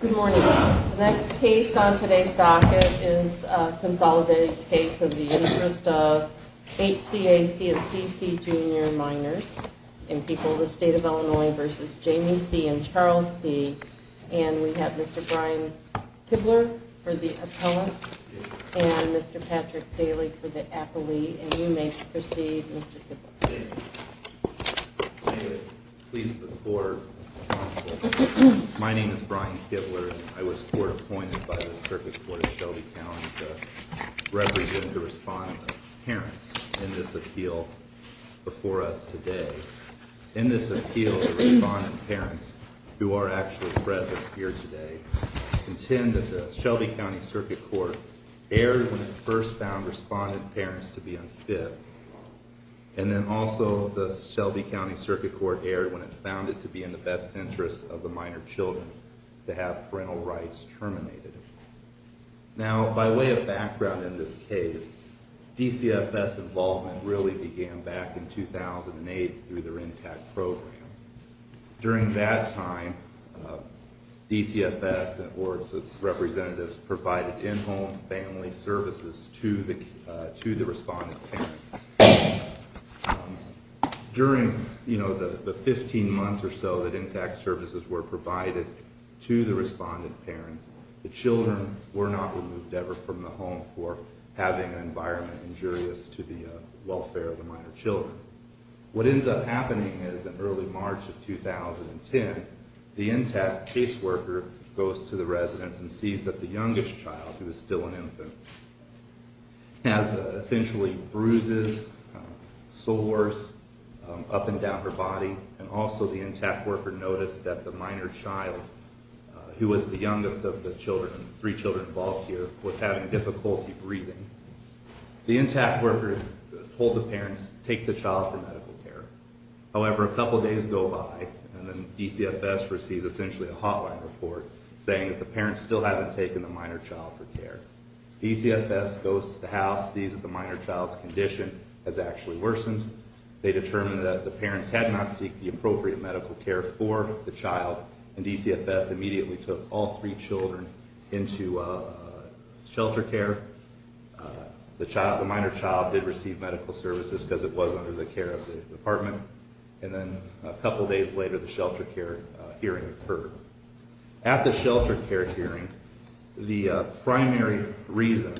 Good morning. The next case on today's docket is a consolidated case of the interest of H.C.A.C. and C.C. Junior minors in People of the State of Illinois v. Jamie C. and Charles C. And we have Mr. Brian Kibler for the appellants and Mr. Patrick Daly for the appellee. And you may proceed, Mr. Kibler. Thank you. I would please the floor, counsel. My name is Brian Kibler and I was court appointed by the Circuit Court of Shelby County to represent the respondent parents in this appeal before us today. In this appeal, the respondent parents, who are actually present here today, contend that the Shelby County Circuit Court erred when it first found respondent parents to be unfit. And then also the Shelby County Circuit Court erred when it found it to be in the best interest of the minor children to have parental rights terminated. Now, by way of background in this case, DCFS involvement really began back in 2008 through their NTAC program. During that time, DCFS and its representatives provided in-home family services to the respondent parents. During the 15 months or so that NTAC services were provided to the respondent parents, the children were not removed ever from the home for having an environment injurious to the welfare of the minor children. What ends up happening is in early March of 2010, the NTAC caseworker goes to the residence and sees that the youngest child, who is still an infant, has essentially bruises, sores up and down her body. And also the NTAC worker noticed that the minor child, who was the youngest of the three children involved here, was having difficulty breathing. The NTAC worker told the parents, take the child for medical care. However, a couple days go by, and then DCFS receives essentially a hotline report saying that the parents still haven't taken the minor child for care. DCFS goes to the house, sees that the minor child's condition has actually worsened. They determine that the parents had not seeked the appropriate medical care for the child, and DCFS immediately took all three children into shelter care. The minor child did receive medical services because it was under the care of the department, and then a couple days later, the shelter care hearing occurred. At the shelter care hearing, the primary reason,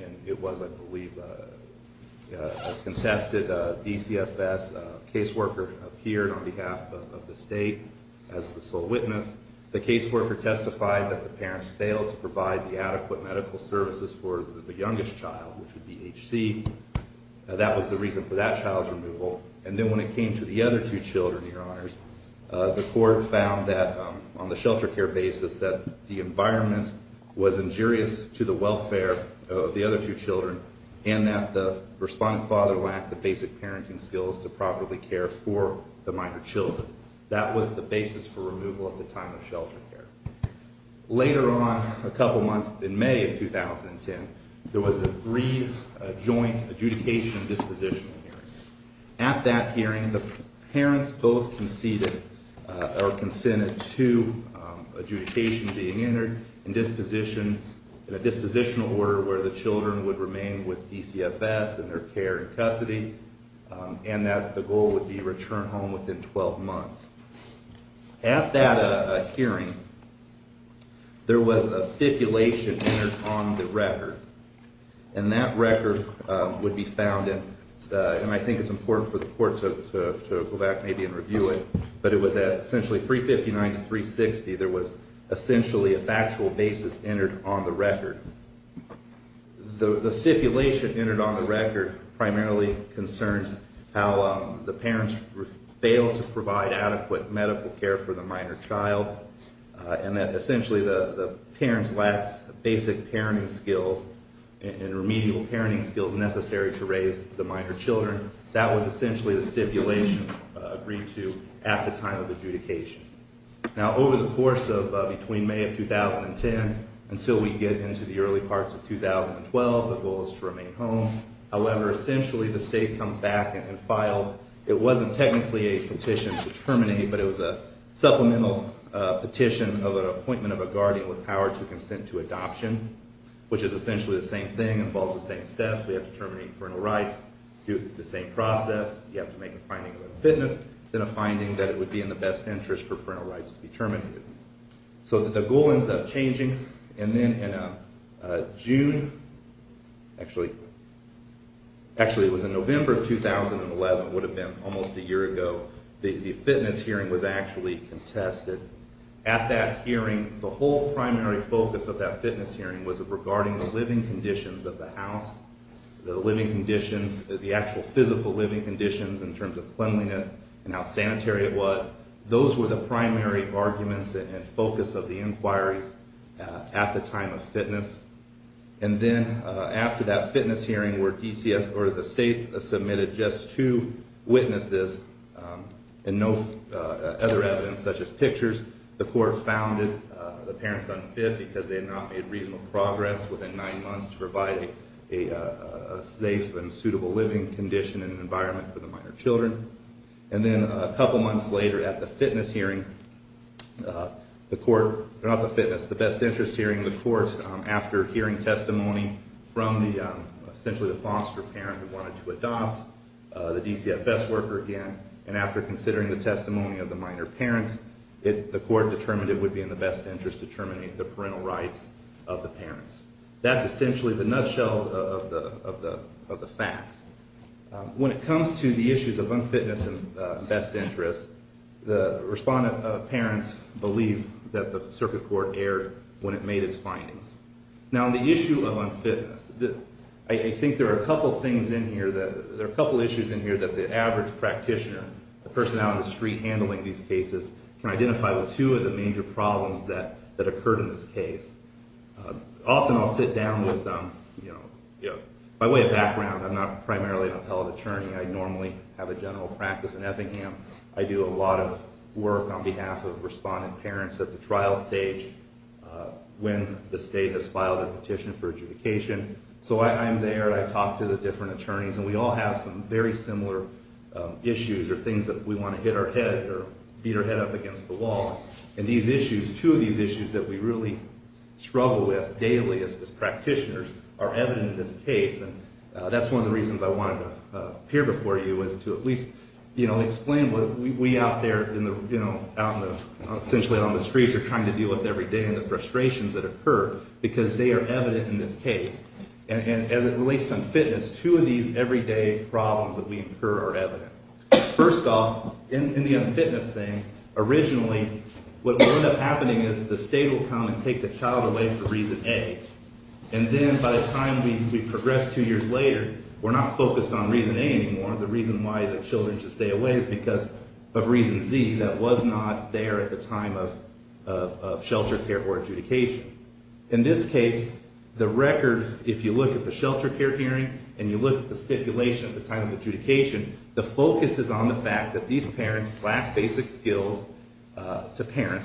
and it was, I believe, a contested DCFS caseworker appeared on behalf of the state as the sole witness. The caseworker testified that the parents failed to provide the adequate medical services for the youngest child, which would be HC. That was the reason for that child's removal. And then when it came to the other two children, your honors, the court found that on the shelter care basis that the environment was injurious to the welfare of the other two children, and that the responding father lacked the basic parenting skills to properly care for the minor children. That was the basis for removal at the time of shelter care. Later on, a couple months in May of 2010, there was a re-joint adjudication disposition hearing. At that hearing, the parents both conceded or consented to adjudication being entered in a dispositional order where the children would remain with DCFS in their care and custody, and that the goal would be return home within 12 months. At that hearing, there was a stipulation entered on the record, and that record would be found in, and I think it's important for the court to go back maybe and review it, but it was essentially at 359 to 360, there was essentially a factual basis entered on the record. The stipulation entered on the record primarily concerned how the parents failed to provide adequate medical care for the minor child, and that essentially the parents lacked basic parenting skills and remedial parenting skills necessary to raise the minor children. That was essentially the stipulation agreed to at the time of adjudication. Now, over the course of between May of 2010 until we get into the early parts of 2012, the goal is to remain home. However, essentially the state comes back and files, it wasn't technically a petition to terminate, but it was a supplemental petition of an appointment of a guardian with power to consent to adoption, which is essentially the same thing, involves the same steps, we have to terminate parental rights, do the same process, you have to make a finding of fitness, then a finding that it would be in the best interest for parental rights to be terminated. So the goal ends up changing, and then in June, actually it was in November of 2011, it would have been almost a year ago, the fitness hearing was actually contested. At that hearing, the whole primary focus of that fitness hearing was regarding the living conditions of the house, the living conditions, the actual physical living conditions in terms of cleanliness and how sanitary it was. Those were the primary arguments and focus of the inquiries at the time of fitness. And then after that fitness hearing where DCF or the state submitted just two witnesses and no other evidence such as pictures, the court founded the parents unfit because they had not made reasonable progress within nine months to provide a safe and suitable living condition and environment for the minor children. And then a couple months later at the fitness hearing, the court, not the fitness, the best interest hearing, the court, after hearing testimony from essentially the foster parent who wanted to adopt, the DCF best worker again, and after considering the testimony of the minor parents, the court determined it would be in the best interest to terminate the parental rights of the parents. That's essentially the nutshell of the facts. When it comes to the issues of unfitness and best interest, the respondent parents believe that the circuit court erred when it made its findings. Now on the issue of unfitness, I think there are a couple issues in here that the average practitioner, the person out on the street handling these cases, can identify with two of the major problems that occurred in this case. Often I'll sit down with, by way of background, I'm not primarily an appellate attorney. I normally have a general practice in Effingham. I do a lot of work on behalf of respondent parents at the trial stage when the state has filed a petition for adjudication. So I'm there and I talk to the different attorneys and we all have some very similar issues or things that we want to hit our head or beat our head up against the wall. And these issues, two of these issues that we really struggle with daily as practitioners are evident in this case. And that's one of the reasons I wanted to appear before you is to at least explain what we out there, essentially out on the streets are trying to deal with every day and the frustrations that occur because they are evident in this case. And as it relates to unfitness, two of these everyday problems that we incur are evident. First off, in the unfitness thing, originally what would end up happening is the state will come and take the child away for reason A. And then by the time we progress two years later, we're not focused on reason A anymore. The reason why the children should stay away is because of reason Z that was not there at the time of shelter care for adjudication. In this case, the record, if you look at the shelter care hearing and you look at the stipulation at the time of adjudication, the focus is on the fact that these parents lack basic skills to parent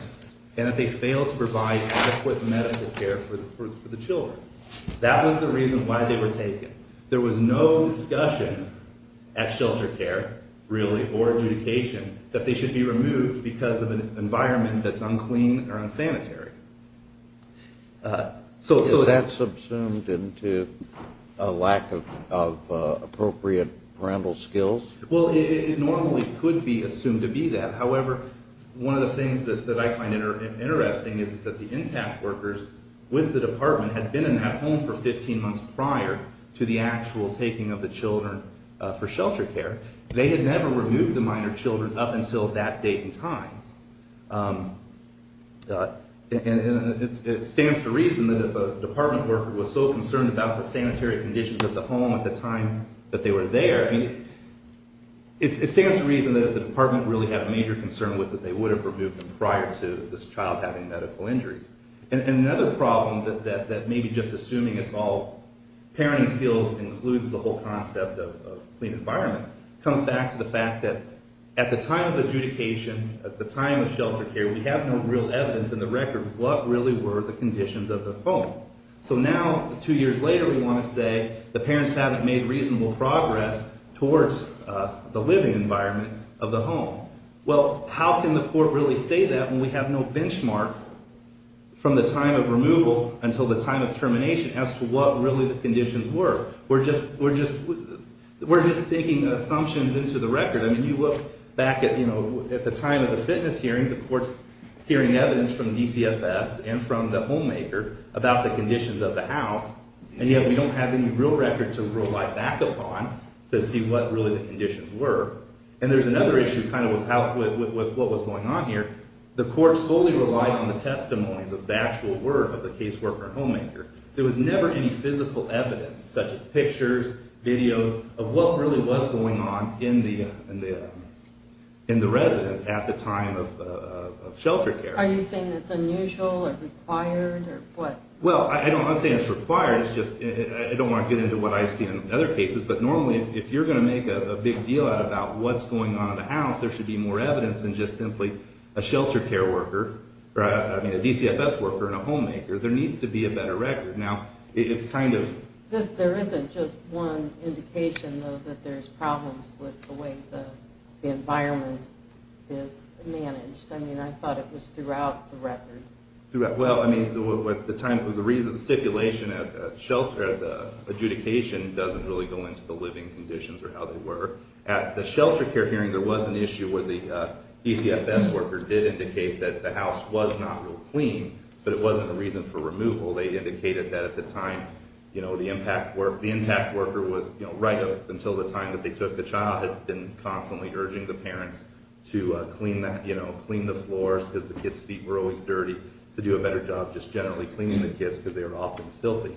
and that they fail to provide adequate medical care for the children. That was the reason why they were taken. There was no discussion at shelter care really or adjudication that they should be removed because of an environment that's unclean or unsanitary. Is that subsumed into a lack of appropriate parental skills? Well, it normally could be assumed to be that. However, one of the things that I find interesting is that the intact workers with the department had been in that home for 15 months prior to the actual taking of the children for shelter care. They had never removed the minor children up until that date and time. It stands to reason that if a department worker was so concerned about the sanitary conditions of the home at the time that they were there, it stands to reason that if the department really had a major concern with it, they would have removed them prior to this child having medical injuries. Another problem that maybe just assuming it's all parenting skills includes the whole concept of clean environment, comes back to the fact that at the time of adjudication, at the time of shelter care, we have no real evidence in the record what really were the conditions of the home. So now, two years later, we want to say the parents haven't made reasonable progress towards the living environment of the home. Well, how can the court really say that when we have no benchmark from the time of removal until the time of termination as to what really the conditions were? We're just digging assumptions into the record. I mean, you look back at the time of the fitness hearing, the court's hearing evidence from DCFS and from the homemaker about the conditions of the house, and yet we don't have any real record to rely back upon to see what really the conditions were. And there's another issue kind of with what was going on here. The court solely relied on the testimony, the actual word of the caseworker and homemaker. There was never any physical evidence such as pictures, videos of what really was going on in the residence at the time of shelter care. Are you saying that's unusual or required or what? Well, I'm not saying it's required. It's just I don't want to get into what I've seen in other cases, but normally if you're going to make a big deal out about what's going on in the house, there should be more evidence than just simply a shelter care worker, I mean, a DCFS worker and a homemaker. There needs to be a better record. Now, it's kind of… There isn't just one indication, though, that there's problems with the way the environment is managed. I mean, I thought it was throughout the record. Well, I mean, at the time of the stipulation at the shelter, the adjudication doesn't really go into the living conditions or how they were. At the shelter care hearing, there was an issue where the DCFS worker did indicate that the house was not real clean, but it wasn't a reason for removal. They indicated that at the time, you know, the impact worker would, you know, right up until the time that they took the child, had been constantly urging the parents to clean the floors because the kids' feet were always dirty, to do a better job just generally cleaning the kids because they were often filthy.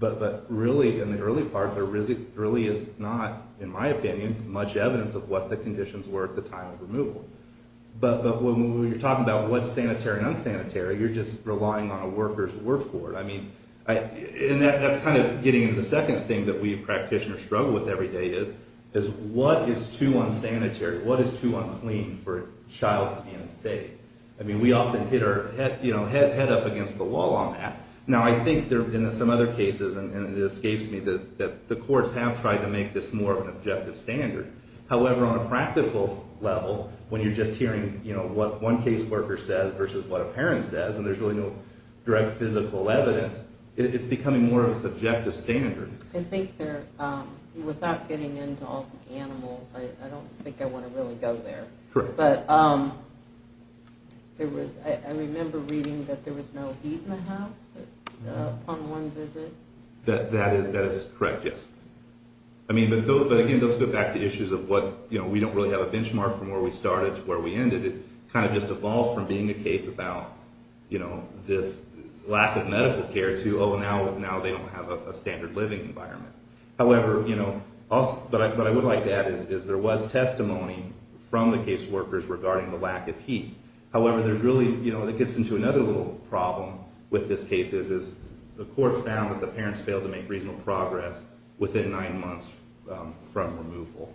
But really, in the early part, there really is not, in my opinion, much evidence of what the conditions were at the time of removal. But when you're talking about what's sanitary and unsanitary, you're just relying on a worker's work for it. I mean, and that's kind of getting into the second thing that we practitioners struggle with every day is what is too unsanitary, what is too unclean for a child to be unsafe? I mean, we often hit our head up against the wall on that. Now, I think there have been some other cases, and it escapes me, that the courts have tried to make this more of an objective standard. However, on a practical level, when you're just hearing, you know, what one caseworker says versus what a parent says, and there's really no direct physical evidence, it's becoming more of a subjective standard. I think there, without getting into all the animals, I don't think I want to really go there. Correct. But there was, I remember reading that there was no heat in the house upon one visit. That is correct, yes. I mean, but again, let's go back to issues of what, you know, we don't really have a benchmark from where we started to where we ended. It kind of just evolved from being a case about, you know, this lack of medical care to, oh, now they don't have a standard living environment. However, you know, but what I would like to add is there was testimony from the caseworkers regarding the lack of heat. However, there's really, you know, it gets into another little problem with this case, is the court found that the parents failed to make reasonable progress within nine months from removal.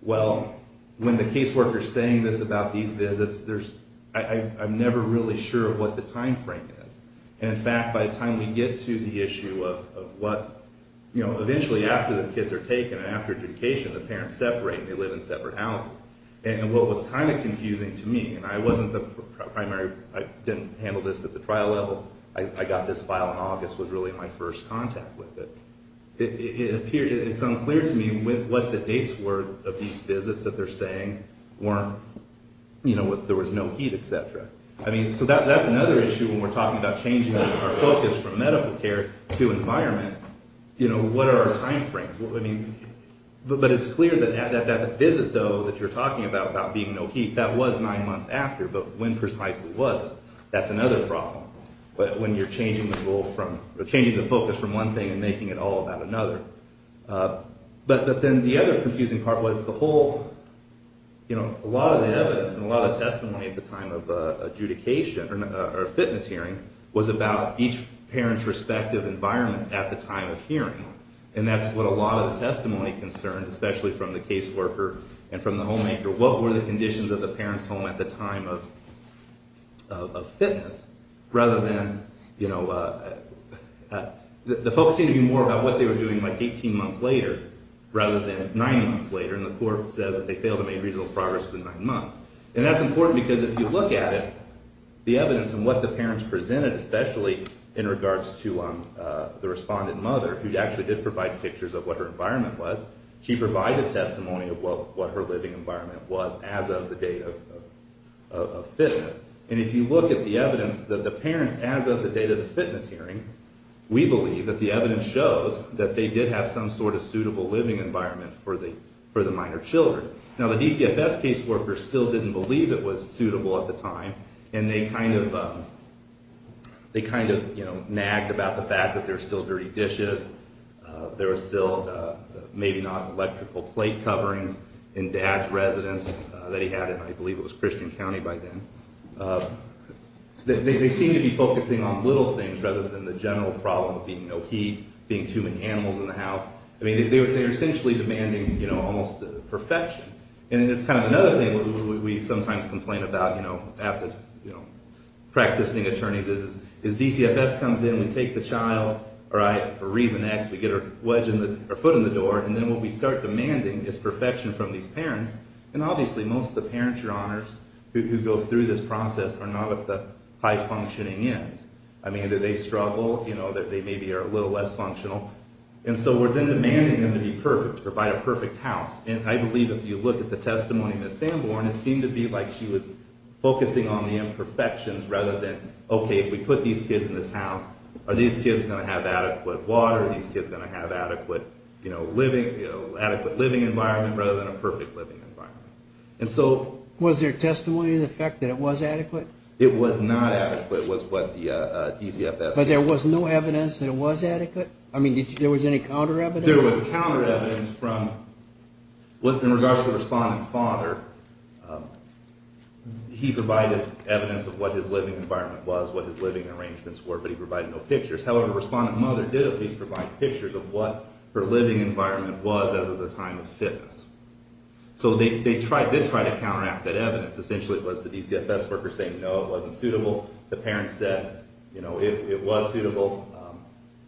Well, when the caseworker's saying this about these visits, there's, I'm never really sure what the timeframe is. And in fact, by the time we get to the issue of what, you know, eventually after the kids are taken and after adjudication, the parents separate and they live in separate houses. And what was kind of confusing to me, and I wasn't the primary, I didn't handle this at the trial level. I got this file in August, was really my first contact with it. It appeared, it's unclear to me what the dates were of these visits that they're saying weren't, you know, there was no heat, et cetera. I mean, so that's another issue when we're talking about changing our focus from medical care to environment. You know, what are our timeframes? I mean, but it's clear that that visit, though, that you're talking about, about being no heat, that was nine months after. But when precisely was it? That's another problem. But when you're changing the focus from one thing and making it all about another. But then the other confusing part was the whole, you know, a lot of the evidence and a lot of testimony at the time of adjudication, or fitness hearing, was about each parent's respective environments at the time of hearing. And that's what a lot of the testimony concerned, especially from the caseworker and from the homemaker. What were the conditions of the parent's home at the time of fitness? Rather than, you know, the folks seem to be more about what they were doing like 18 months later rather than nine months later. And the court says that they failed to make reasonable progress within nine months. And that's important because if you look at it, the evidence and what the parents presented, especially in regards to the respondent mother, who actually did provide pictures of what her environment was, she provided testimony of what her living environment was as of the date of fitness. And if you look at the evidence that the parents, as of the date of the fitness hearing, we believe that the evidence shows that they did have some sort of suitable living environment for the minor children. Now, the DCFS caseworker still didn't believe it was suitable at the time, and they kind of nagged about the fact that there were still dirty dishes, there were still maybe not electrical plate coverings in Dad's residence that he had in, I believe, it was Christian County by then. They seemed to be focusing on little things rather than the general problem of being no heat, being too many animals in the house. I mean, they were essentially demanding, you know, almost perfection. And it's kind of another thing we sometimes complain about, you know, practicing attorneys is DCFS comes in, we take the child, all right, for reason X, we get our foot in the door, and then what we start demanding is perfection from these parents. And obviously most of the parents, Your Honors, who go through this process are not at the high-functioning end. I mean, they struggle, you know, they maybe are a little less functional. And so we're then demanding them to be perfect, to provide a perfect house. And I believe if you look at the testimony of Ms. Sanborn, it seemed to be like she was focusing on the imperfections rather than, okay, if we put these kids in this house, are these kids going to have adequate water, are these kids going to have adequate living environment rather than a perfect living environment. And so... Was there testimony to the fact that it was adequate? It was not adequate was what the DCFS... But there was no evidence that it was adequate? I mean, there was any counter evidence? There was counter evidence from, in regards to the responding father, he provided evidence of what his living environment was, what his living arrangements were, but he provided no pictures. However, the responding mother did at least provide pictures of what her living environment was as of the time of fitness. So they tried to counteract that evidence. Essentially, it was the DCFS workers saying, no, it wasn't suitable. The parents said, you know, it was suitable.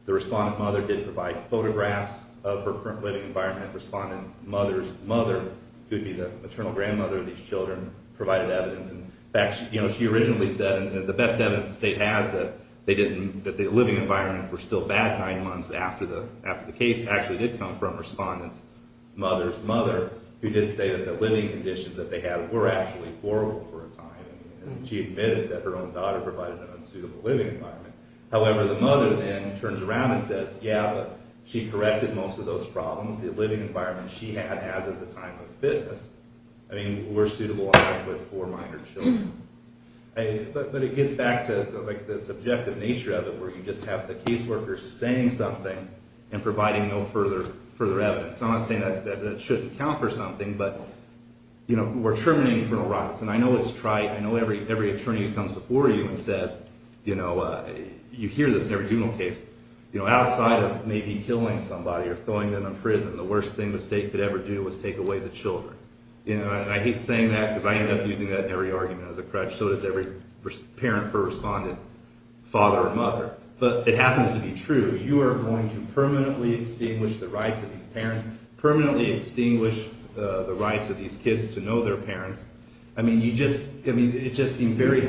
The responding mother did provide photographs of her current living environment. Responding mother's mother, who would be the maternal grandmother of these children, provided evidence. In fact, you know, she originally said, and the best evidence the state has that the living environment were still bad nine months after the case actually did come from responding mother's mother, who did say that the living conditions that they had were actually horrible for a time. And she admitted that her own daughter provided an unsuitable living environment. However, the mother then turns around and says, yeah, she corrected most of those problems. The living environment she had as of the time of fitness, I mean, were suitable for minor children. But it gets back to, like, the subjective nature of it, where you just have the case workers saying something and providing no further evidence. I'm not saying that it shouldn't count for something, but, you know, we're terminating criminal rights. And I know it's trite. I know every attorney who comes before you and says, you know, you hear this in every juvenile case, you know, outside of maybe killing somebody or throwing them in prison, the worst thing the state could ever do was take away the children. And I hate saying that because I end up using that in every argument as a crutch, so does every parent who responded father or mother. But it happens to be true. You are going to permanently extinguish the rights of these parents, permanently extinguish the rights of these kids to know their parents. I mean, it just seemed very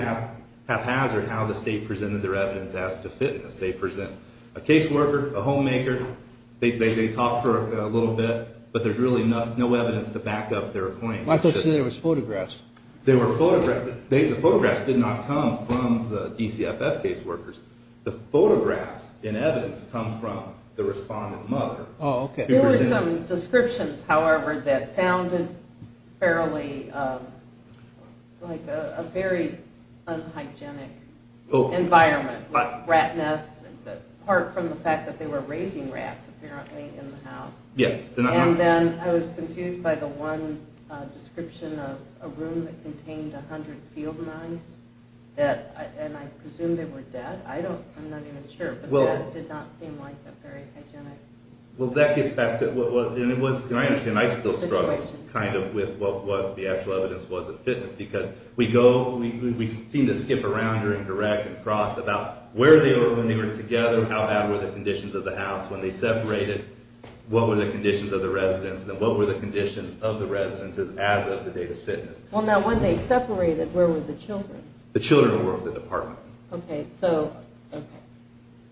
haphazard how the state presented their evidence as to fitness. They present a case worker, a homemaker, they talk for a little bit, but there's really no evidence to back up their claim. I thought you said there was photographs. There were photographs. The photographs did not come from the DCFS case workers. The photographs in evidence come from the responding mother. Oh, okay. There were some descriptions, however, that sounded fairly like a very unhygienic environment, like rat nests, apart from the fact that they were raising rats apparently in the house. Yes. And then I was confused by the one description of a room that contained 100 field mice, and I presumed they were dead. I'm not even sure, but that did not seem like a very hygienic situation. Well, that gets back to what it was. Can I understand? I still struggle kind of with what the actual evidence was of fitness because we seem to skip around here and correct and cross about where they were when they were together, how bad were the conditions of the house when they separated, what were the conditions of the residence, and what were the conditions of the residences as of the date of fitness. Well, now, when they separated, where were the children? The children were with the department. Okay. So, okay.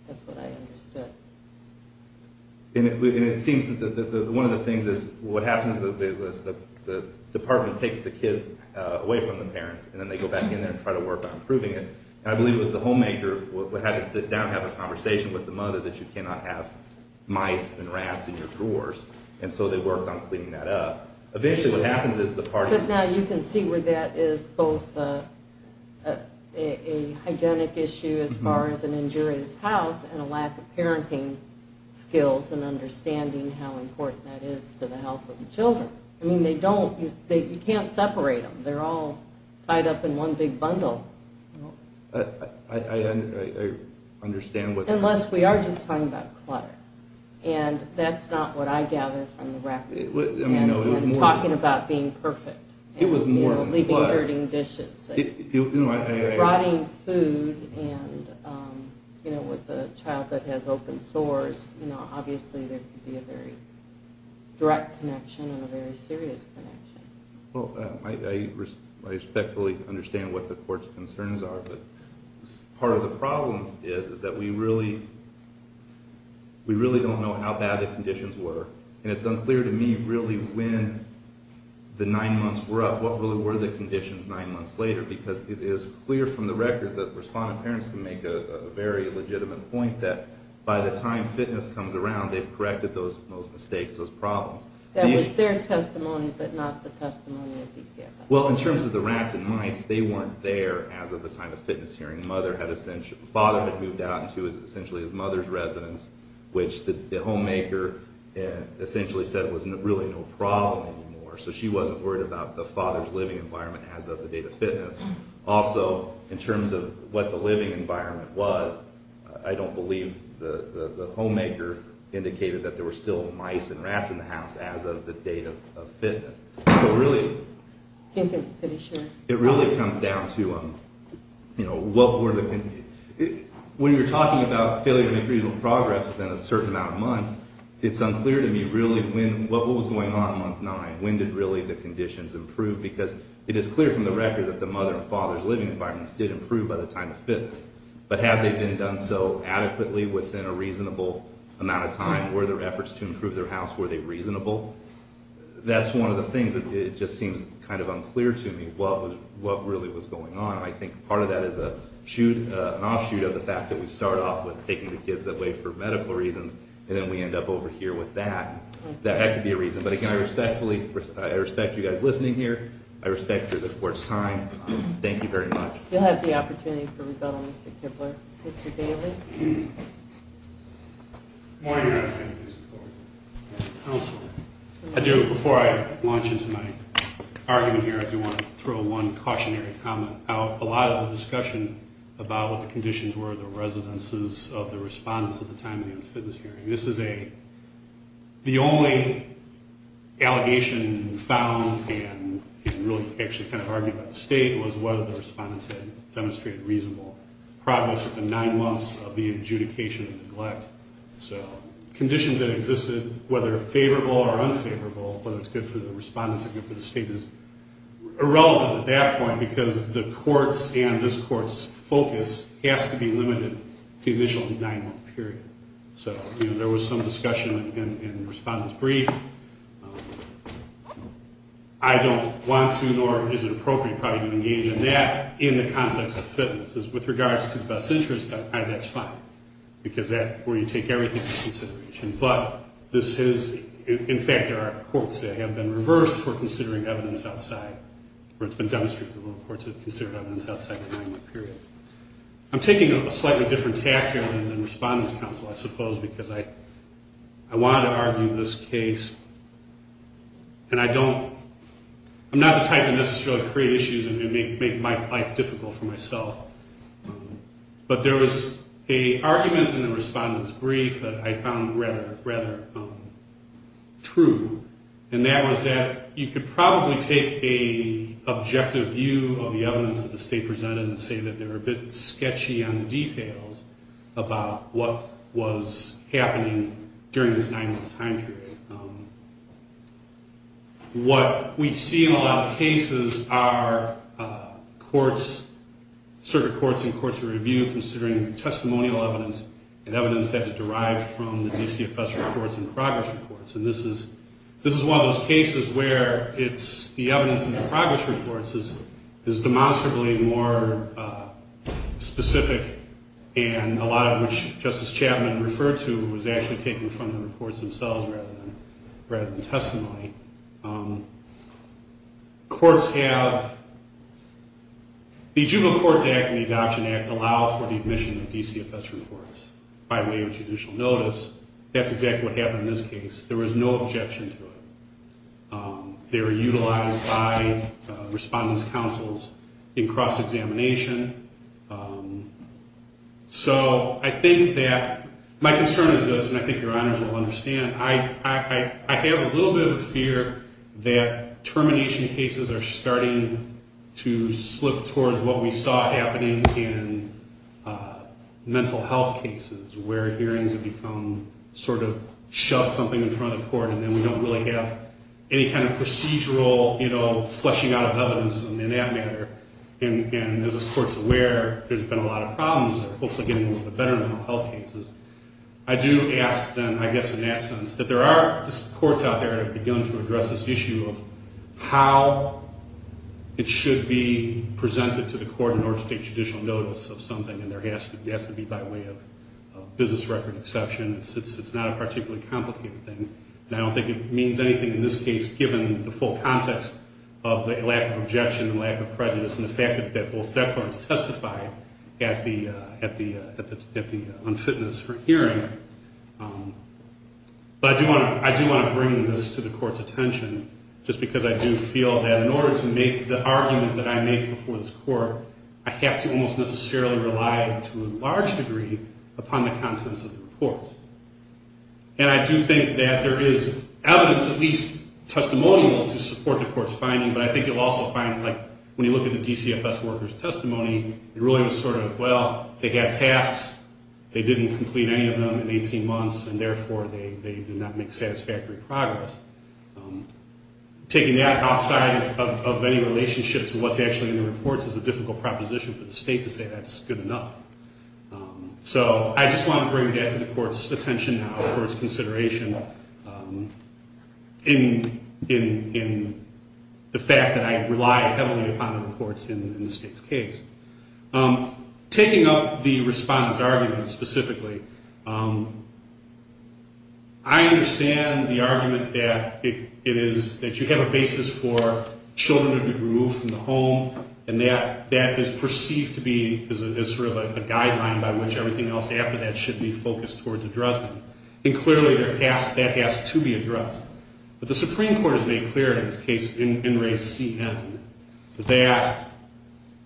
That's what I understood. And it seems that one of the things is what happens is the department takes the kids away from the parents, and then they go back in there and try to work on improving it. And I believe it was the homemaker who had to sit down and have a conversation with the mother that you cannot have mice and rats in your drawers, and so they worked on cleaning that up. Eventually what happens is the parties – Because now you can see where that is both a hygienic issue as far as an injurious house and a lack of parenting skills and understanding how important that is to the health of the children. I mean, they don't – you can't separate them. They're all tied up in one big bundle. I understand what – Unless we are just talking about clutter. And that's not what I gather from the record. I'm talking about being perfect. It was more than clutter. Leaving dirty dishes. Brought in food, and with a child that has open sores, obviously there could be a very direct connection and a very serious connection. Well, I respectfully understand what the court's concerns are, but part of the problem is that we really don't know how bad the conditions were. And it's unclear to me really when the nine months were up. What really were the conditions nine months later? Because it is clear from the record that respondent parents can make a very legitimate point that by the time fitness comes around, they've corrected those mistakes, those problems. That was their testimony, but not the testimony of DCFS. Well, in terms of the rats and mice, they weren't there as of the time of fitness hearing. The father had moved out and she was essentially his mother's residence, which the homemaker essentially said was really no problem anymore. So she wasn't worried about the father's living environment as of the date of fitness. Also, in terms of what the living environment was, I don't believe the homemaker indicated that there were still mice and rats in the house as of the date of fitness. So really, it really comes down to what were the – when you're talking about failure to make reasonable progress within a certain amount of months, it's unclear to me really what was going on in month nine. When did really the conditions improve? Because it is clear from the record that the mother and father's living environments did improve by the time of fitness. But have they been done so adequately within a reasonable amount of time? Were there efforts to improve their house? Were they reasonable? That's one of the things that just seems kind of unclear to me, what really was going on. And I think part of that is an offshoot of the fact that we start off with taking the kids away for medical reasons, and then we end up over here with that. That could be a reason. But again, I respectfully – I respect you guys listening here. I respect the Court's time. Thank you very much. You'll have the opportunity for rebuttal, Mr. Kibler. Mr. Daly? Good morning, Your Honor. Good morning. Counsel. Before I launch into my argument here, I do want to throw one cautionary comment out. A lot of the discussion about what the conditions were of the residences of the respondents at the time of the unfitness hearing, this is a – the only allegation found and really actually kind of argued by the State was whether the respondents had demonstrated reasonable progress within nine months of the adjudication of neglect. So conditions that existed, whether favorable or unfavorable, whether it's good for the respondents or good for the State, is irrelevant at that point because the Court's and this Court's focus has to be limited to the initial nine-month period. So, you know, there was some discussion in the respondent's brief. I don't want to nor is it appropriate probably to engage in that in the context of fitness. With regards to best interest, that's fine because that's where you take everything into consideration. But this is – in fact, there are courts that have been reversed for considering evidence outside where it's been demonstrated that little courts have considered evidence outside the nine-month period. I'm taking a slightly different tact here than the Respondents' Council, I suppose, because I wanted to argue this case and I don't – I'm not the type to necessarily create issues and make my life difficult for myself. But there was an argument in the Respondents' Brief that I found rather true, and that was that you could probably take an objective view of the evidence that the State presented and say that they were a bit sketchy on the details about what was happening during this nine-month time period. What we see in a lot of cases are courts – certain courts and courts of review considering testimonial evidence and evidence that's derived from the DCFS reports and progress reports. And this is one of those cases where it's the evidence in the progress reports is demonstrably more specific and a lot of which Justice Chapman referred to was actually taken from the reports themselves rather than testimony. Courts have – the Juvenile Courts Act and the Adoption Act allow for the admission of DCFS reports by way of judicial notice. That's exactly what happened in this case. There was no objection to it. They were utilized by Respondents' Councils in cross-examination. So I think that – my concern is this, and I think Your Honors will understand. I have a little bit of a fear that termination cases are starting to slip towards what we saw happening in mental health cases where hearings have become sort of shove something in front of the court and then we don't really have any kind of procedural, you know, fleshing out of evidence in that matter. And as this Court's aware, there's been a lot of problems, hopefully getting a little bit better in mental health cases. I do ask then, I guess in that sense, that there are courts out there that have begun to address this issue of how it should be presented to the court in order to take judicial notice of something, and there has to be by way of business record exception. It's not a particularly complicated thing, and I don't think it means anything in this case given the full context of the lack of objection, the lack of prejudice, and the fact that both declarants testified at the unfitness for hearing. But I do want to bring this to the Court's attention just because I do feel that in order to make the argument that I make before this Court, I have to almost necessarily rely to a large degree upon the contents of the report. And I do think that there is evidence, at least testimonial, to support the Court's finding, but I think you'll also find, like, when you look at the DCFS worker's testimony, it really was sort of, well, they have tasks, they didn't complete any of them in 18 months, and therefore they did not make satisfactory progress. Taking that outside of any relationship to what's actually in the reports is a difficult proposition for the State to say that's good enough. So I just want to bring that to the Court's attention now for its consideration in the fact that I rely heavily upon the reports in the State's case. Taking up the respondent's argument specifically, I understand the argument that it is, that you have a basis for children to be removed from the home, and that that is perceived to be, is sort of a guideline by which everything else after that should be focused towards addressing. And clearly that has to be addressed. But the Supreme Court has made clear in this case, in race CN, that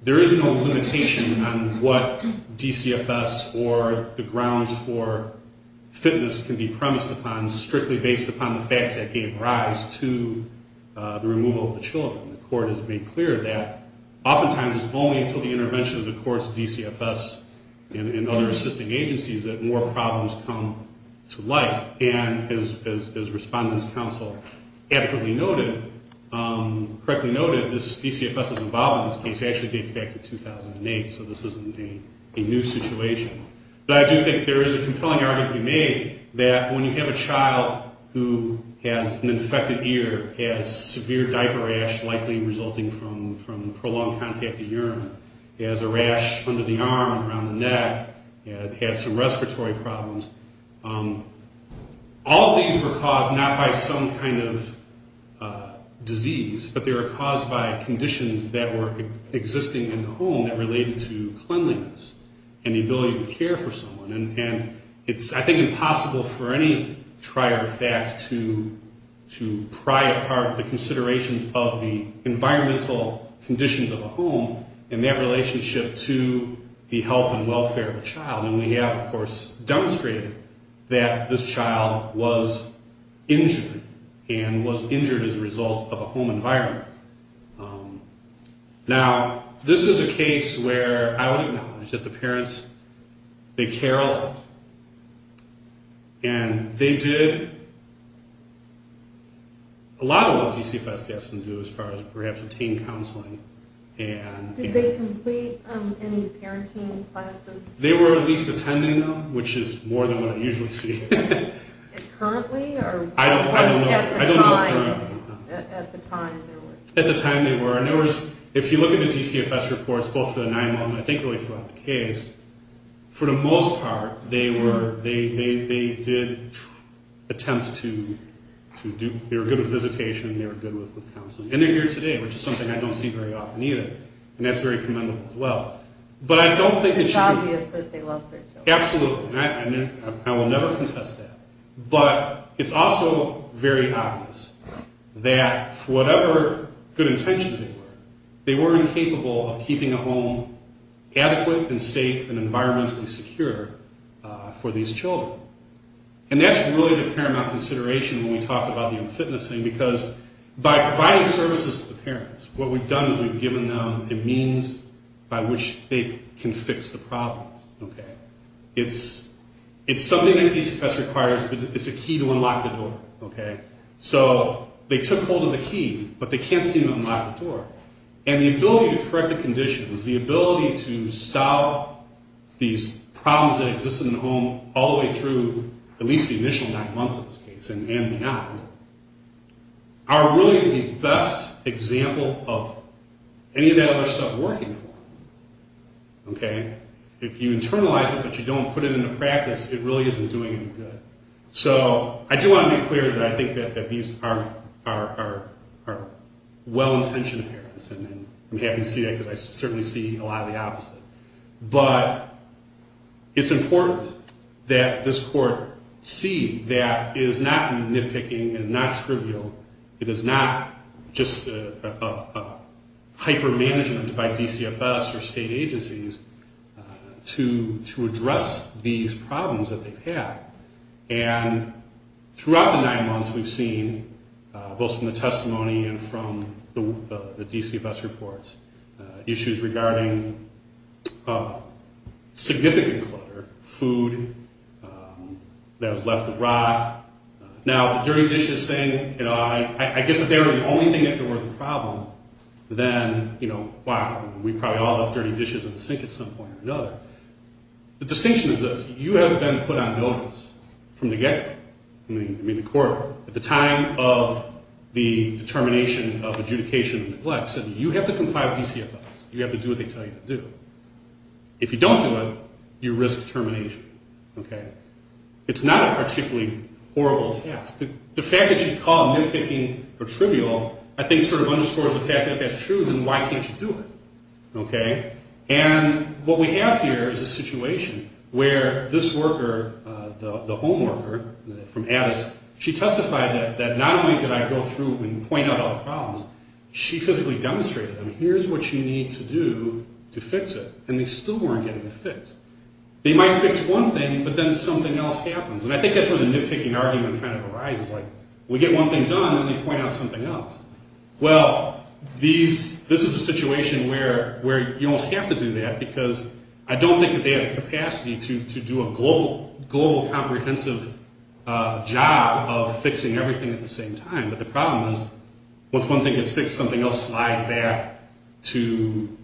there is no limitation on what DCFS or the grounds for fitness can be premised upon strictly based upon the facts that gave rise to the removal of the children. The Court has made clear that oftentimes it's only until the intervention of the Court's DCFS and other assisting agencies that more problems come to life. And as Respondent's Counsel adequately noted, correctly noted, this DCFS's involvement in this case actually dates back to 2008, so this isn't a new situation. But I do think there is a compelling argument to be made that when you have a child who has an infected ear, has severe diaper rash likely resulting from prolonged contact with urine, has a rash under the arm, around the neck, has some respiratory problems, all of these were caused not by some kind of disease, but they were caused by conditions that were existing in the home that related to cleanliness and the ability to care for someone. And it's, I think, impossible for any trier fact to pry apart the considerations of the environmental conditions of a home and that relationship to the health and welfare of a child. And we have, of course, demonstrated that this child was injured and was injured as a result of a home environment. Now, this is a case where I would acknowledge that the parents, they care a lot. And they did a lot of what a DCFS has to do as far as perhaps obtaining counseling. Did they complete any parenting classes? They were at least attending them, which is more than what I usually see. And currently or at the time? I don't know. At the time they were. At the time they were. And there was, if you look at the DCFS reports, both the 911 and I think really throughout the case, for the most part they were, they did attempt to do, they were good with visitation, they were good with counseling. And they're here today, which is something I don't see very often either. And that's very commendable as well. But I don't think it should be. It's obvious that they love their children. Absolutely. I will never contest that. But it's also very obvious that for whatever good intentions they were, they weren't capable of keeping a home adequate and safe and environmentally secure for these children. And that's really the paramount consideration when we talk about the unfitnessing, because by providing services to the parents, what we've done is we've given them a means by which they can fix the problem. It's something that DCFS requires. It's a key to unlock the door. So they took hold of the key, but they can't seem to unlock the door. And the ability to correct the conditions, the ability to solve these problems that existed in the home all the way through, at least the initial nine months of this case and beyond, are really the best example of any of that other stuff working for them. Okay? If you internalize it but you don't put it into practice, it really isn't doing any good. So I do want to be clear that I think that these are well-intentioned parents, and I'm happy to see that because I certainly see a lot of the opposite. But it's important that this court see that it is not nitpicking, it is not trivial, it is not just a hyper-management by DCFS or state agencies to address these problems that they've had. And throughout the nine months, we've seen, both from the testimony and from the DCFS reports, issues regarding significant clutter, food that was left to rot. Now, the dirty dishes thing, you know, I guess if they were the only thing that were the problem, then, you know, wow, we probably all left dirty dishes in the sink at some point or another. The distinction is this. You haven't been put on notice from the get-go. I mean, the court, at the time of the determination of adjudication and neglect, said you have to comply with DCFS. You have to do what they tell you to do. If you don't do it, you risk termination. Okay? It's not a particularly horrible task. The fact that you call nitpicking or trivial I think sort of underscores the fact that that's true, then why can't you do it? Okay? And what we have here is a situation where this worker, the home worker from Addis, she testified that not only did I go through and point out all the problems, she physically demonstrated them. Here's what you need to do to fix it. And they still weren't getting it fixed. They might fix one thing, but then something else happens. And I think that's where the nitpicking argument kind of arises. Like, we get one thing done, then they point out something else. Well, this is a situation where you almost have to do that, because I don't think that they have the capacity to do a global comprehensive job of fixing everything at the same time. But the problem is once one thing gets fixed, something else slides back to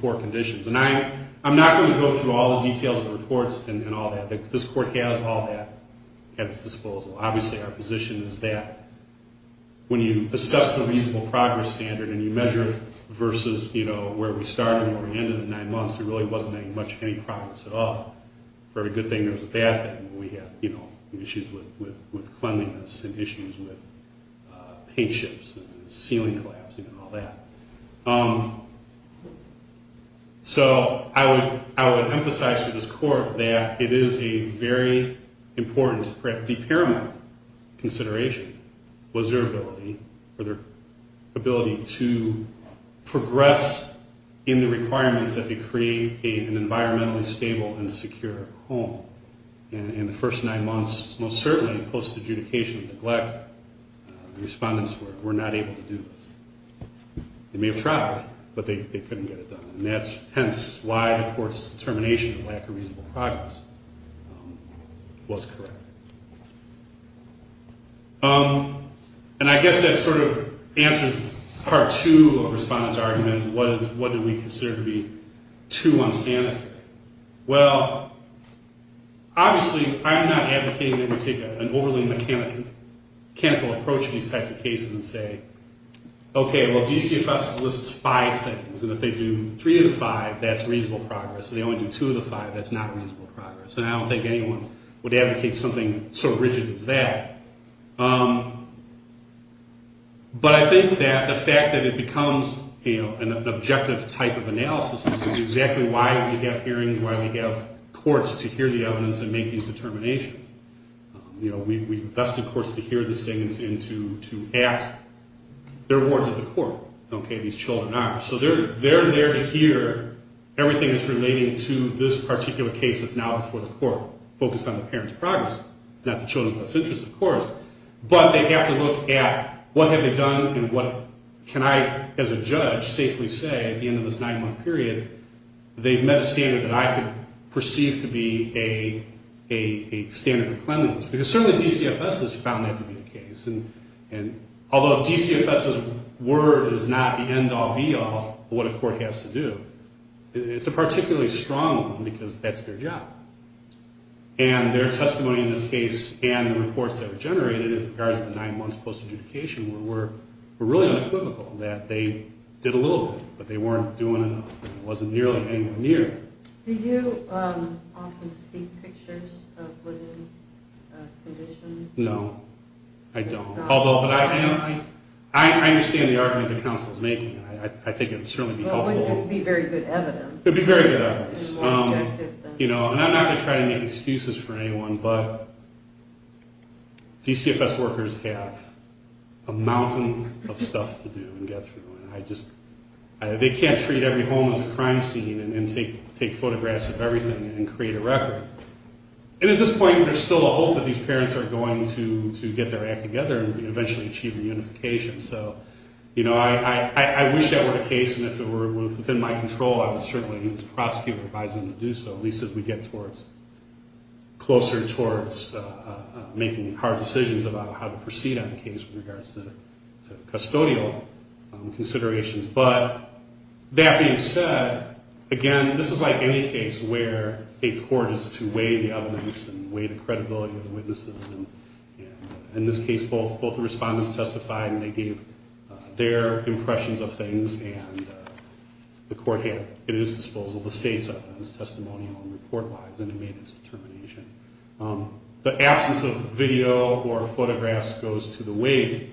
poor conditions. And I'm not going to go through all the details of the reports and all that. This court has all that at its disposal. Obviously, our position is that when you assess the reasonable progress standard and you measure versus, you know, where we started and where we ended in nine months, there really wasn't much progress at all. For every good thing, there was a bad thing. We had, you know, issues with cleanliness and issues with paint chips and ceiling collapsing and all that. So I would emphasize to this court that it is a very important, perhaps paramount consideration was their ability to progress in the requirements that they create an environmentally stable and secure home. In the first nine months, most certainly, post-adjudication neglect, the respondents were not able to do this. They may have tried, but they couldn't get it done. And that's hence why the court's determination of lack of reasonable progress was correct. And I guess that sort of answers part two of the respondents' argument, what did we consider to be too unsanitary. Well, obviously, I am not advocating that we take an overly mechanical approach to these types of cases and say, okay, well, GCFS lists five things, and if they do three of the five, that's reasonable progress. If they only do two of the five, that's not reasonable progress. And I don't think anyone would advocate something so rigid as that. But I think that the fact that it becomes, you know, an objective type of analysis is exactly why we have hearings, why we have courts to hear the evidence and make these determinations. You know, we've invested courts to hear these things and to ask. They're wards of the court, okay, these children are. So they're there to hear everything that's relating to this particular case that's now before the court, focused on the parents' progress, not the children's best interest, of course. But they have to look at what have they done and what can I, as a judge, safely say at the end of this nine-month period, they've met a standard that I could perceive to be a standard of cleanliness. Because certainly GCFS has found that to be the case. And although GCFS's word is not the end-all, be-all of what a court has to do, it's a particularly strong one because that's their job. And their testimony in this case and the reports that were generated in regards to the nine months post-adjudication were really unequivocal, that they did a little bit, but they weren't doing enough, and it wasn't nearly anywhere near. Do you often see pictures of living conditions? No, I don't. Although I understand the argument the counsel is making. I think it would certainly be helpful. Well, it would be very good evidence. It would be very good evidence. And I'm not going to try to make excuses for anyone, but GCFS workers have a mountain of stuff to do and get through. They can't treat every home as a crime scene and take photographs of everything and create a record. And at this point, there's still a hope that these parents are going to get their act together and eventually achieve reunification. So, you know, I wish that were the case, and if it were within my control, I would certainly need the prosecutor advising me to do so, at least as we get closer towards making hard decisions about how to proceed on the case with regards to custodial considerations. But that being said, again, this is like any case where a court is to weigh the evidence and weigh the credibility of the witnesses. And in this case, both the respondents testified and they gave their impressions of things, and the court had at its disposal the state's evidence, testimonial and report lies, and it made its determination. The absence of video or photographs goes to the weight,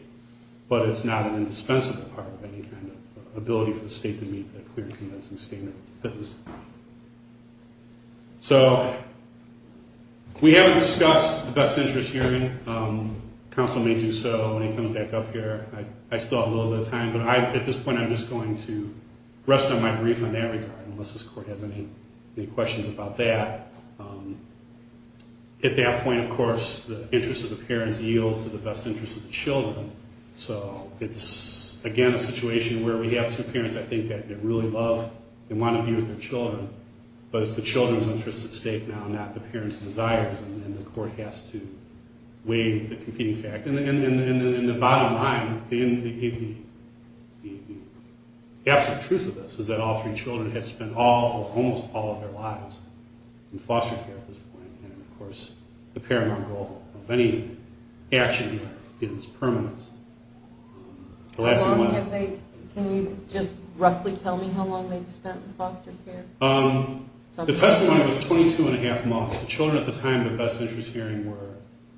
but it's not an indispensable part of any kind of ability for the state to meet that clear, convincing standard of fitness. So we haven't discussed the best interest hearing. Counsel may do so when he comes back up here. I still have a little bit of time, but at this point I'm just going to rest on my brief on that regard, unless this court has any questions about that. At that point, of course, the interest of the parents yields to the best interest of the children. So it's, again, a situation where we have two parents, I think, that really love and want to be with their children, but it's the children's interest at stake now, not the parents' desires, and the court has to weigh the competing facts. And the bottom line, the absolute truth of this is that all three children have spent almost all of their lives in foster care at this point, and, of course, the paramount goal of any action here is permanence. Can you just roughly tell me how long they've spent in foster care? The testimony was 22-and-a-half months. The children at the time of the best interest hearing were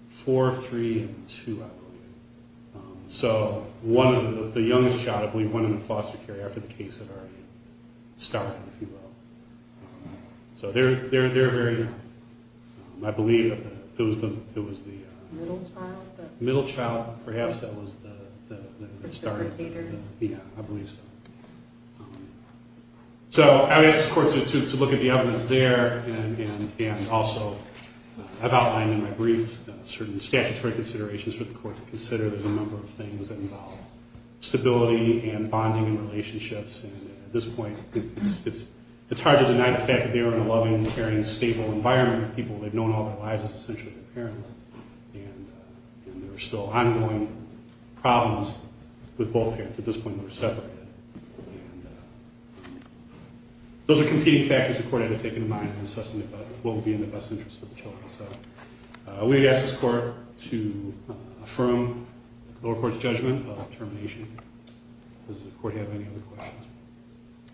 four, three, and two, I believe. So the youngest child, I believe, went into foster care after the case had already started, if you will. So they're very young. I believe it was the middle child, perhaps, that was the starter. Yeah, I believe so. So I asked the court to look at the evidence there, and also I've outlined in my brief certain statutory considerations for the court to consider. There's a number of things that involve stability and bonding and relationships, and at this point it's hard to deny the fact that they were in a loving, caring, stable environment with people. They've known all their lives, essentially, with their parents, and there are still ongoing problems with both parents. At this point, they're separated. Those are competing factors the court had to take into mind in assessing if it will be in the best interest of the children. So we ask this court to affirm the lower court's judgment of termination. Does the court have any other questions?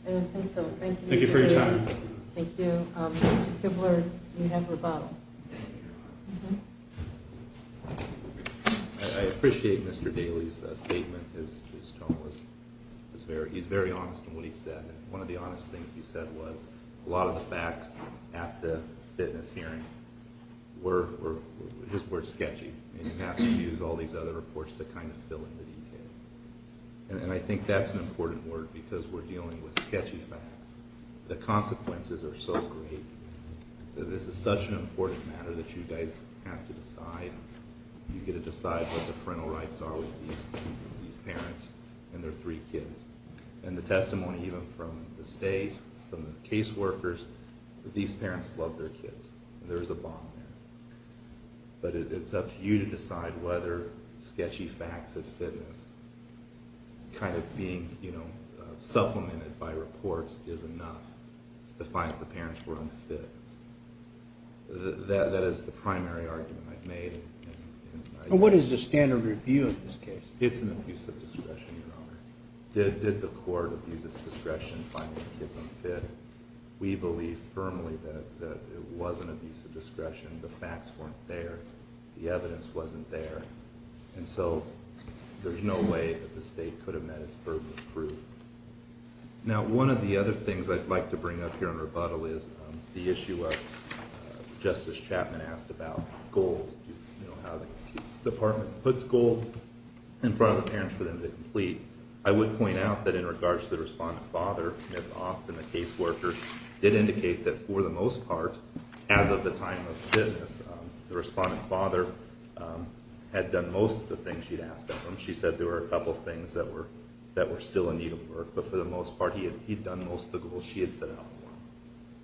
I don't think so. Thank you. Thank you for your time. Thank you. Mr. Kibler, you have rebuttal. I appreciate Mr. Daley's statement. His tone was very honest in what he said, and one of the honest things he said was a lot of the facts at the fitness hearing were sketchy, and you have to use all these other reports to kind of fill in the details. And I think that's an important word because we're dealing with sketchy facts. The consequences are so great. This is such an important matter that you guys have to decide. You've got to decide what the parental rights are with these parents and their three kids. And the testimony even from the state, from the caseworkers, these parents love their kids. There is a bond there. But it's up to you to decide whether sketchy facts at fitness kind of being supplemented by reports is enough to find if the parents were unfit. That is the primary argument I've made. What is the standard review in this case? It's an abuse of discretion, Your Honor. Did the court abuse its discretion in finding the kids unfit? We believe firmly that it was an abuse of discretion. The facts weren't there. The evidence wasn't there. And so there's no way that the state could have met its burden of proof. Now, one of the other things I'd like to bring up here in rebuttal is the issue of Justice Chapman asked about goals, how the department puts goals in front of the parents for them to complete. I would point out that in regards to the respondent father, Ms. Austin, the caseworker, did indicate that for the most part, as of the time of fitness, the respondent father had done most of the things she'd asked of him. She said there were a couple of things that were still in need of work. But for the most part, he had done most of the goals she had set out for him.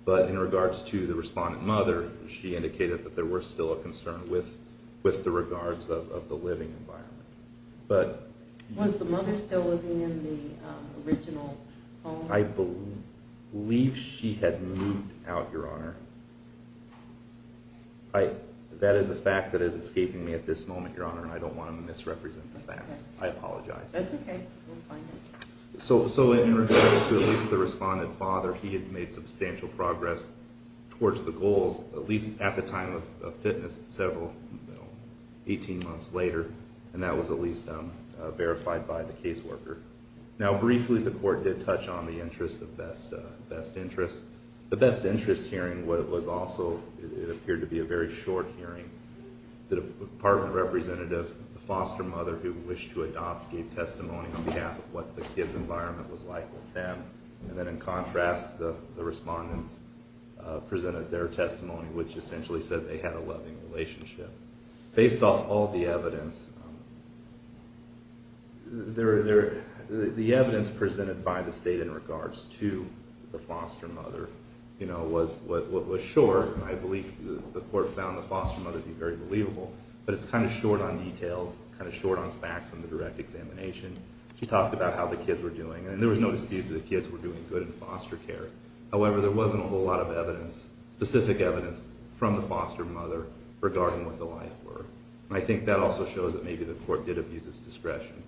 But in regards to the respondent mother, she indicated that there were still a concern with the regards of the living environment. Was the mother still living in the original home? I believe she had moved out, Your Honor. That is a fact that is escaping me at this moment, Your Honor, and I don't want to misrepresent the facts. I apologize. That's okay. We'll find out. So in regards to at least the respondent father, he had made substantial progress towards the goals, at least at the time of fitness, several, you know, 18 months later. And that was at least verified by the caseworker. Now, briefly, the court did touch on the interest of best interest. The best interest hearing was also what appeared to be a very short hearing. The department representative, the foster mother who wished to adopt, gave testimony on behalf of what the kids' environment was like with them. And then in contrast, the respondents presented their testimony, which essentially said they had a loving relationship. Based off all the evidence, the evidence presented by the state in regards to the foster mother, you know, was what was short. I believe the court found the foster mother to be very believable, but it's kind of short on details, kind of short on facts in the direct examination. She talked about how the kids were doing, and there was no dispute that the kids were doing good in foster care. However, there wasn't a whole lot of evidence, specific evidence, from the foster mother regarding what the life were. And I think that also shows that maybe the court did abuse its discretion.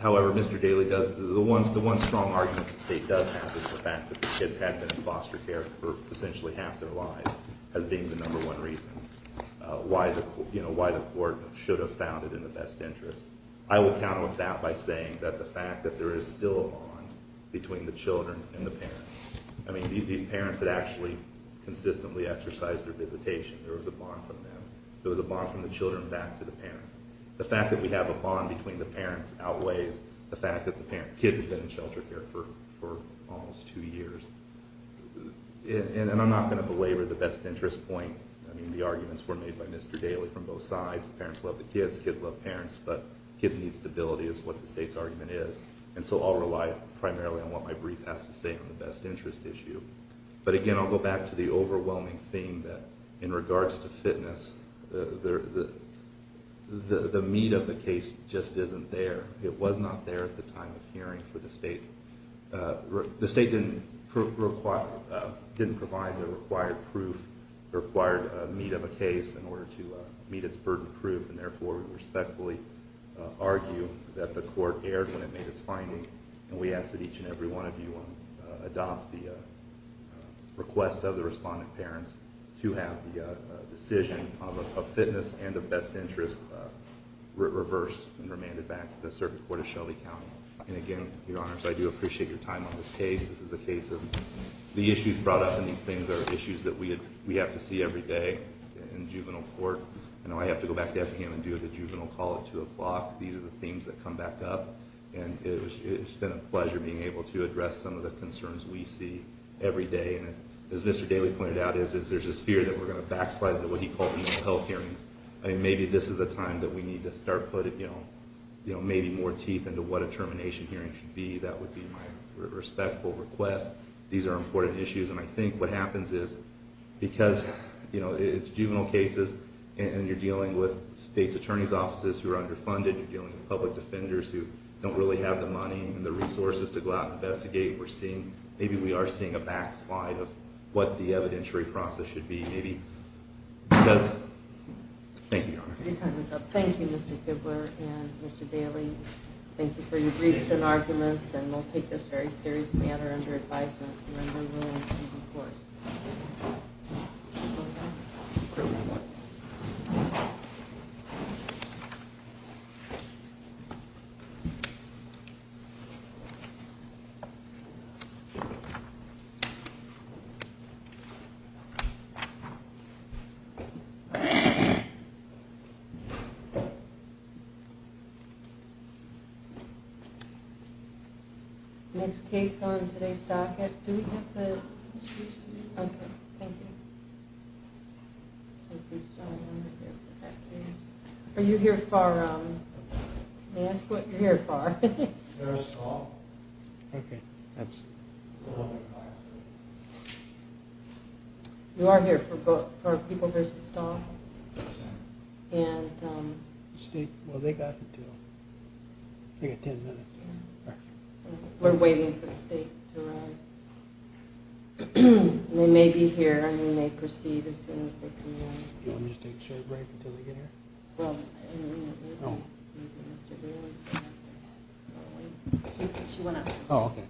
However, Mr. Daley, the one strong argument the state does have is the fact that the kids had been in foster care for essentially half their lives as being the number one reason why the court should have found it in the best interest. I will counter with that by saying that the fact that there is still a bond between the children and the parents. I mean, these parents had actually consistently exercised their visitation. There was a bond from them. There was a bond from the children back to the parents. The fact that we have a bond between the parents outweighs the fact that the kids had been in shelter care for almost two years. And I'm not going to belabor the best interest point. I mean, the arguments were made by Mr. Daley from both sides. Parents love the kids, kids love parents, but kids need stability is what the state's argument is. And so I'll rely primarily on what my brief has to say on the best interest issue. But again, I'll go back to the overwhelming thing that in regards to fitness, the meat of the case just isn't there. It was not there at the time of hearing for the state. The state didn't provide the required proof, required meat of a case in order to meet its burden of proof, and therefore we respectfully argue that the court erred when it made its finding, and we ask that each and every one of you adopt the request of the responding parents to have the decision of fitness and of best interest reversed and remanded back to the Circuit Court of Shelby County. And again, Your Honors, I do appreciate your time on this case. This is a case of the issues brought up in these things are issues that we have to see every day in juvenile court. I know I have to go back to Effingham and do the juvenile call at 2 o'clock. These are the themes that come back up. And it's been a pleasure being able to address some of the concerns we see every day. And as Mr. Daley pointed out, there's this fear that we're going to backslide into what he called the mental health hearings. Maybe this is a time that we need to start putting maybe more teeth into what a termination hearing should be. That would be my respectful request. These are important issues, and I think what happens is because it's juvenile cases and you're dealing with state's attorney's offices who are underfunded, you're dealing with public defenders who don't really have the money and the resources to go out and investigate, maybe we are seeing a backslide of what the evidentiary process should be. Thank you, Your Honor. Your time is up. Thank you, Mr. Kibler and Mr. Daley. Thank you for your briefs and arguments, and we'll take this very seriously and are under advisement when we're willing to enforce. Okay. Next case on today's docket. Do we have the? Okay. Thank you. Are you here for? May I ask what you're here for? There's a stall. Okay. That's. You are here for people there's a stall? Yes, ma'am. And. State. Well, they got until. They got ten minutes. We're waiting for the state to arrive. They may be here and they may proceed as soon as they can. Let me just take a short break until they get here. Well. Oh. She went up. Oh, okay. Okay.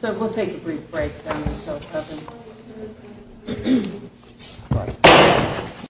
So we'll take a brief break.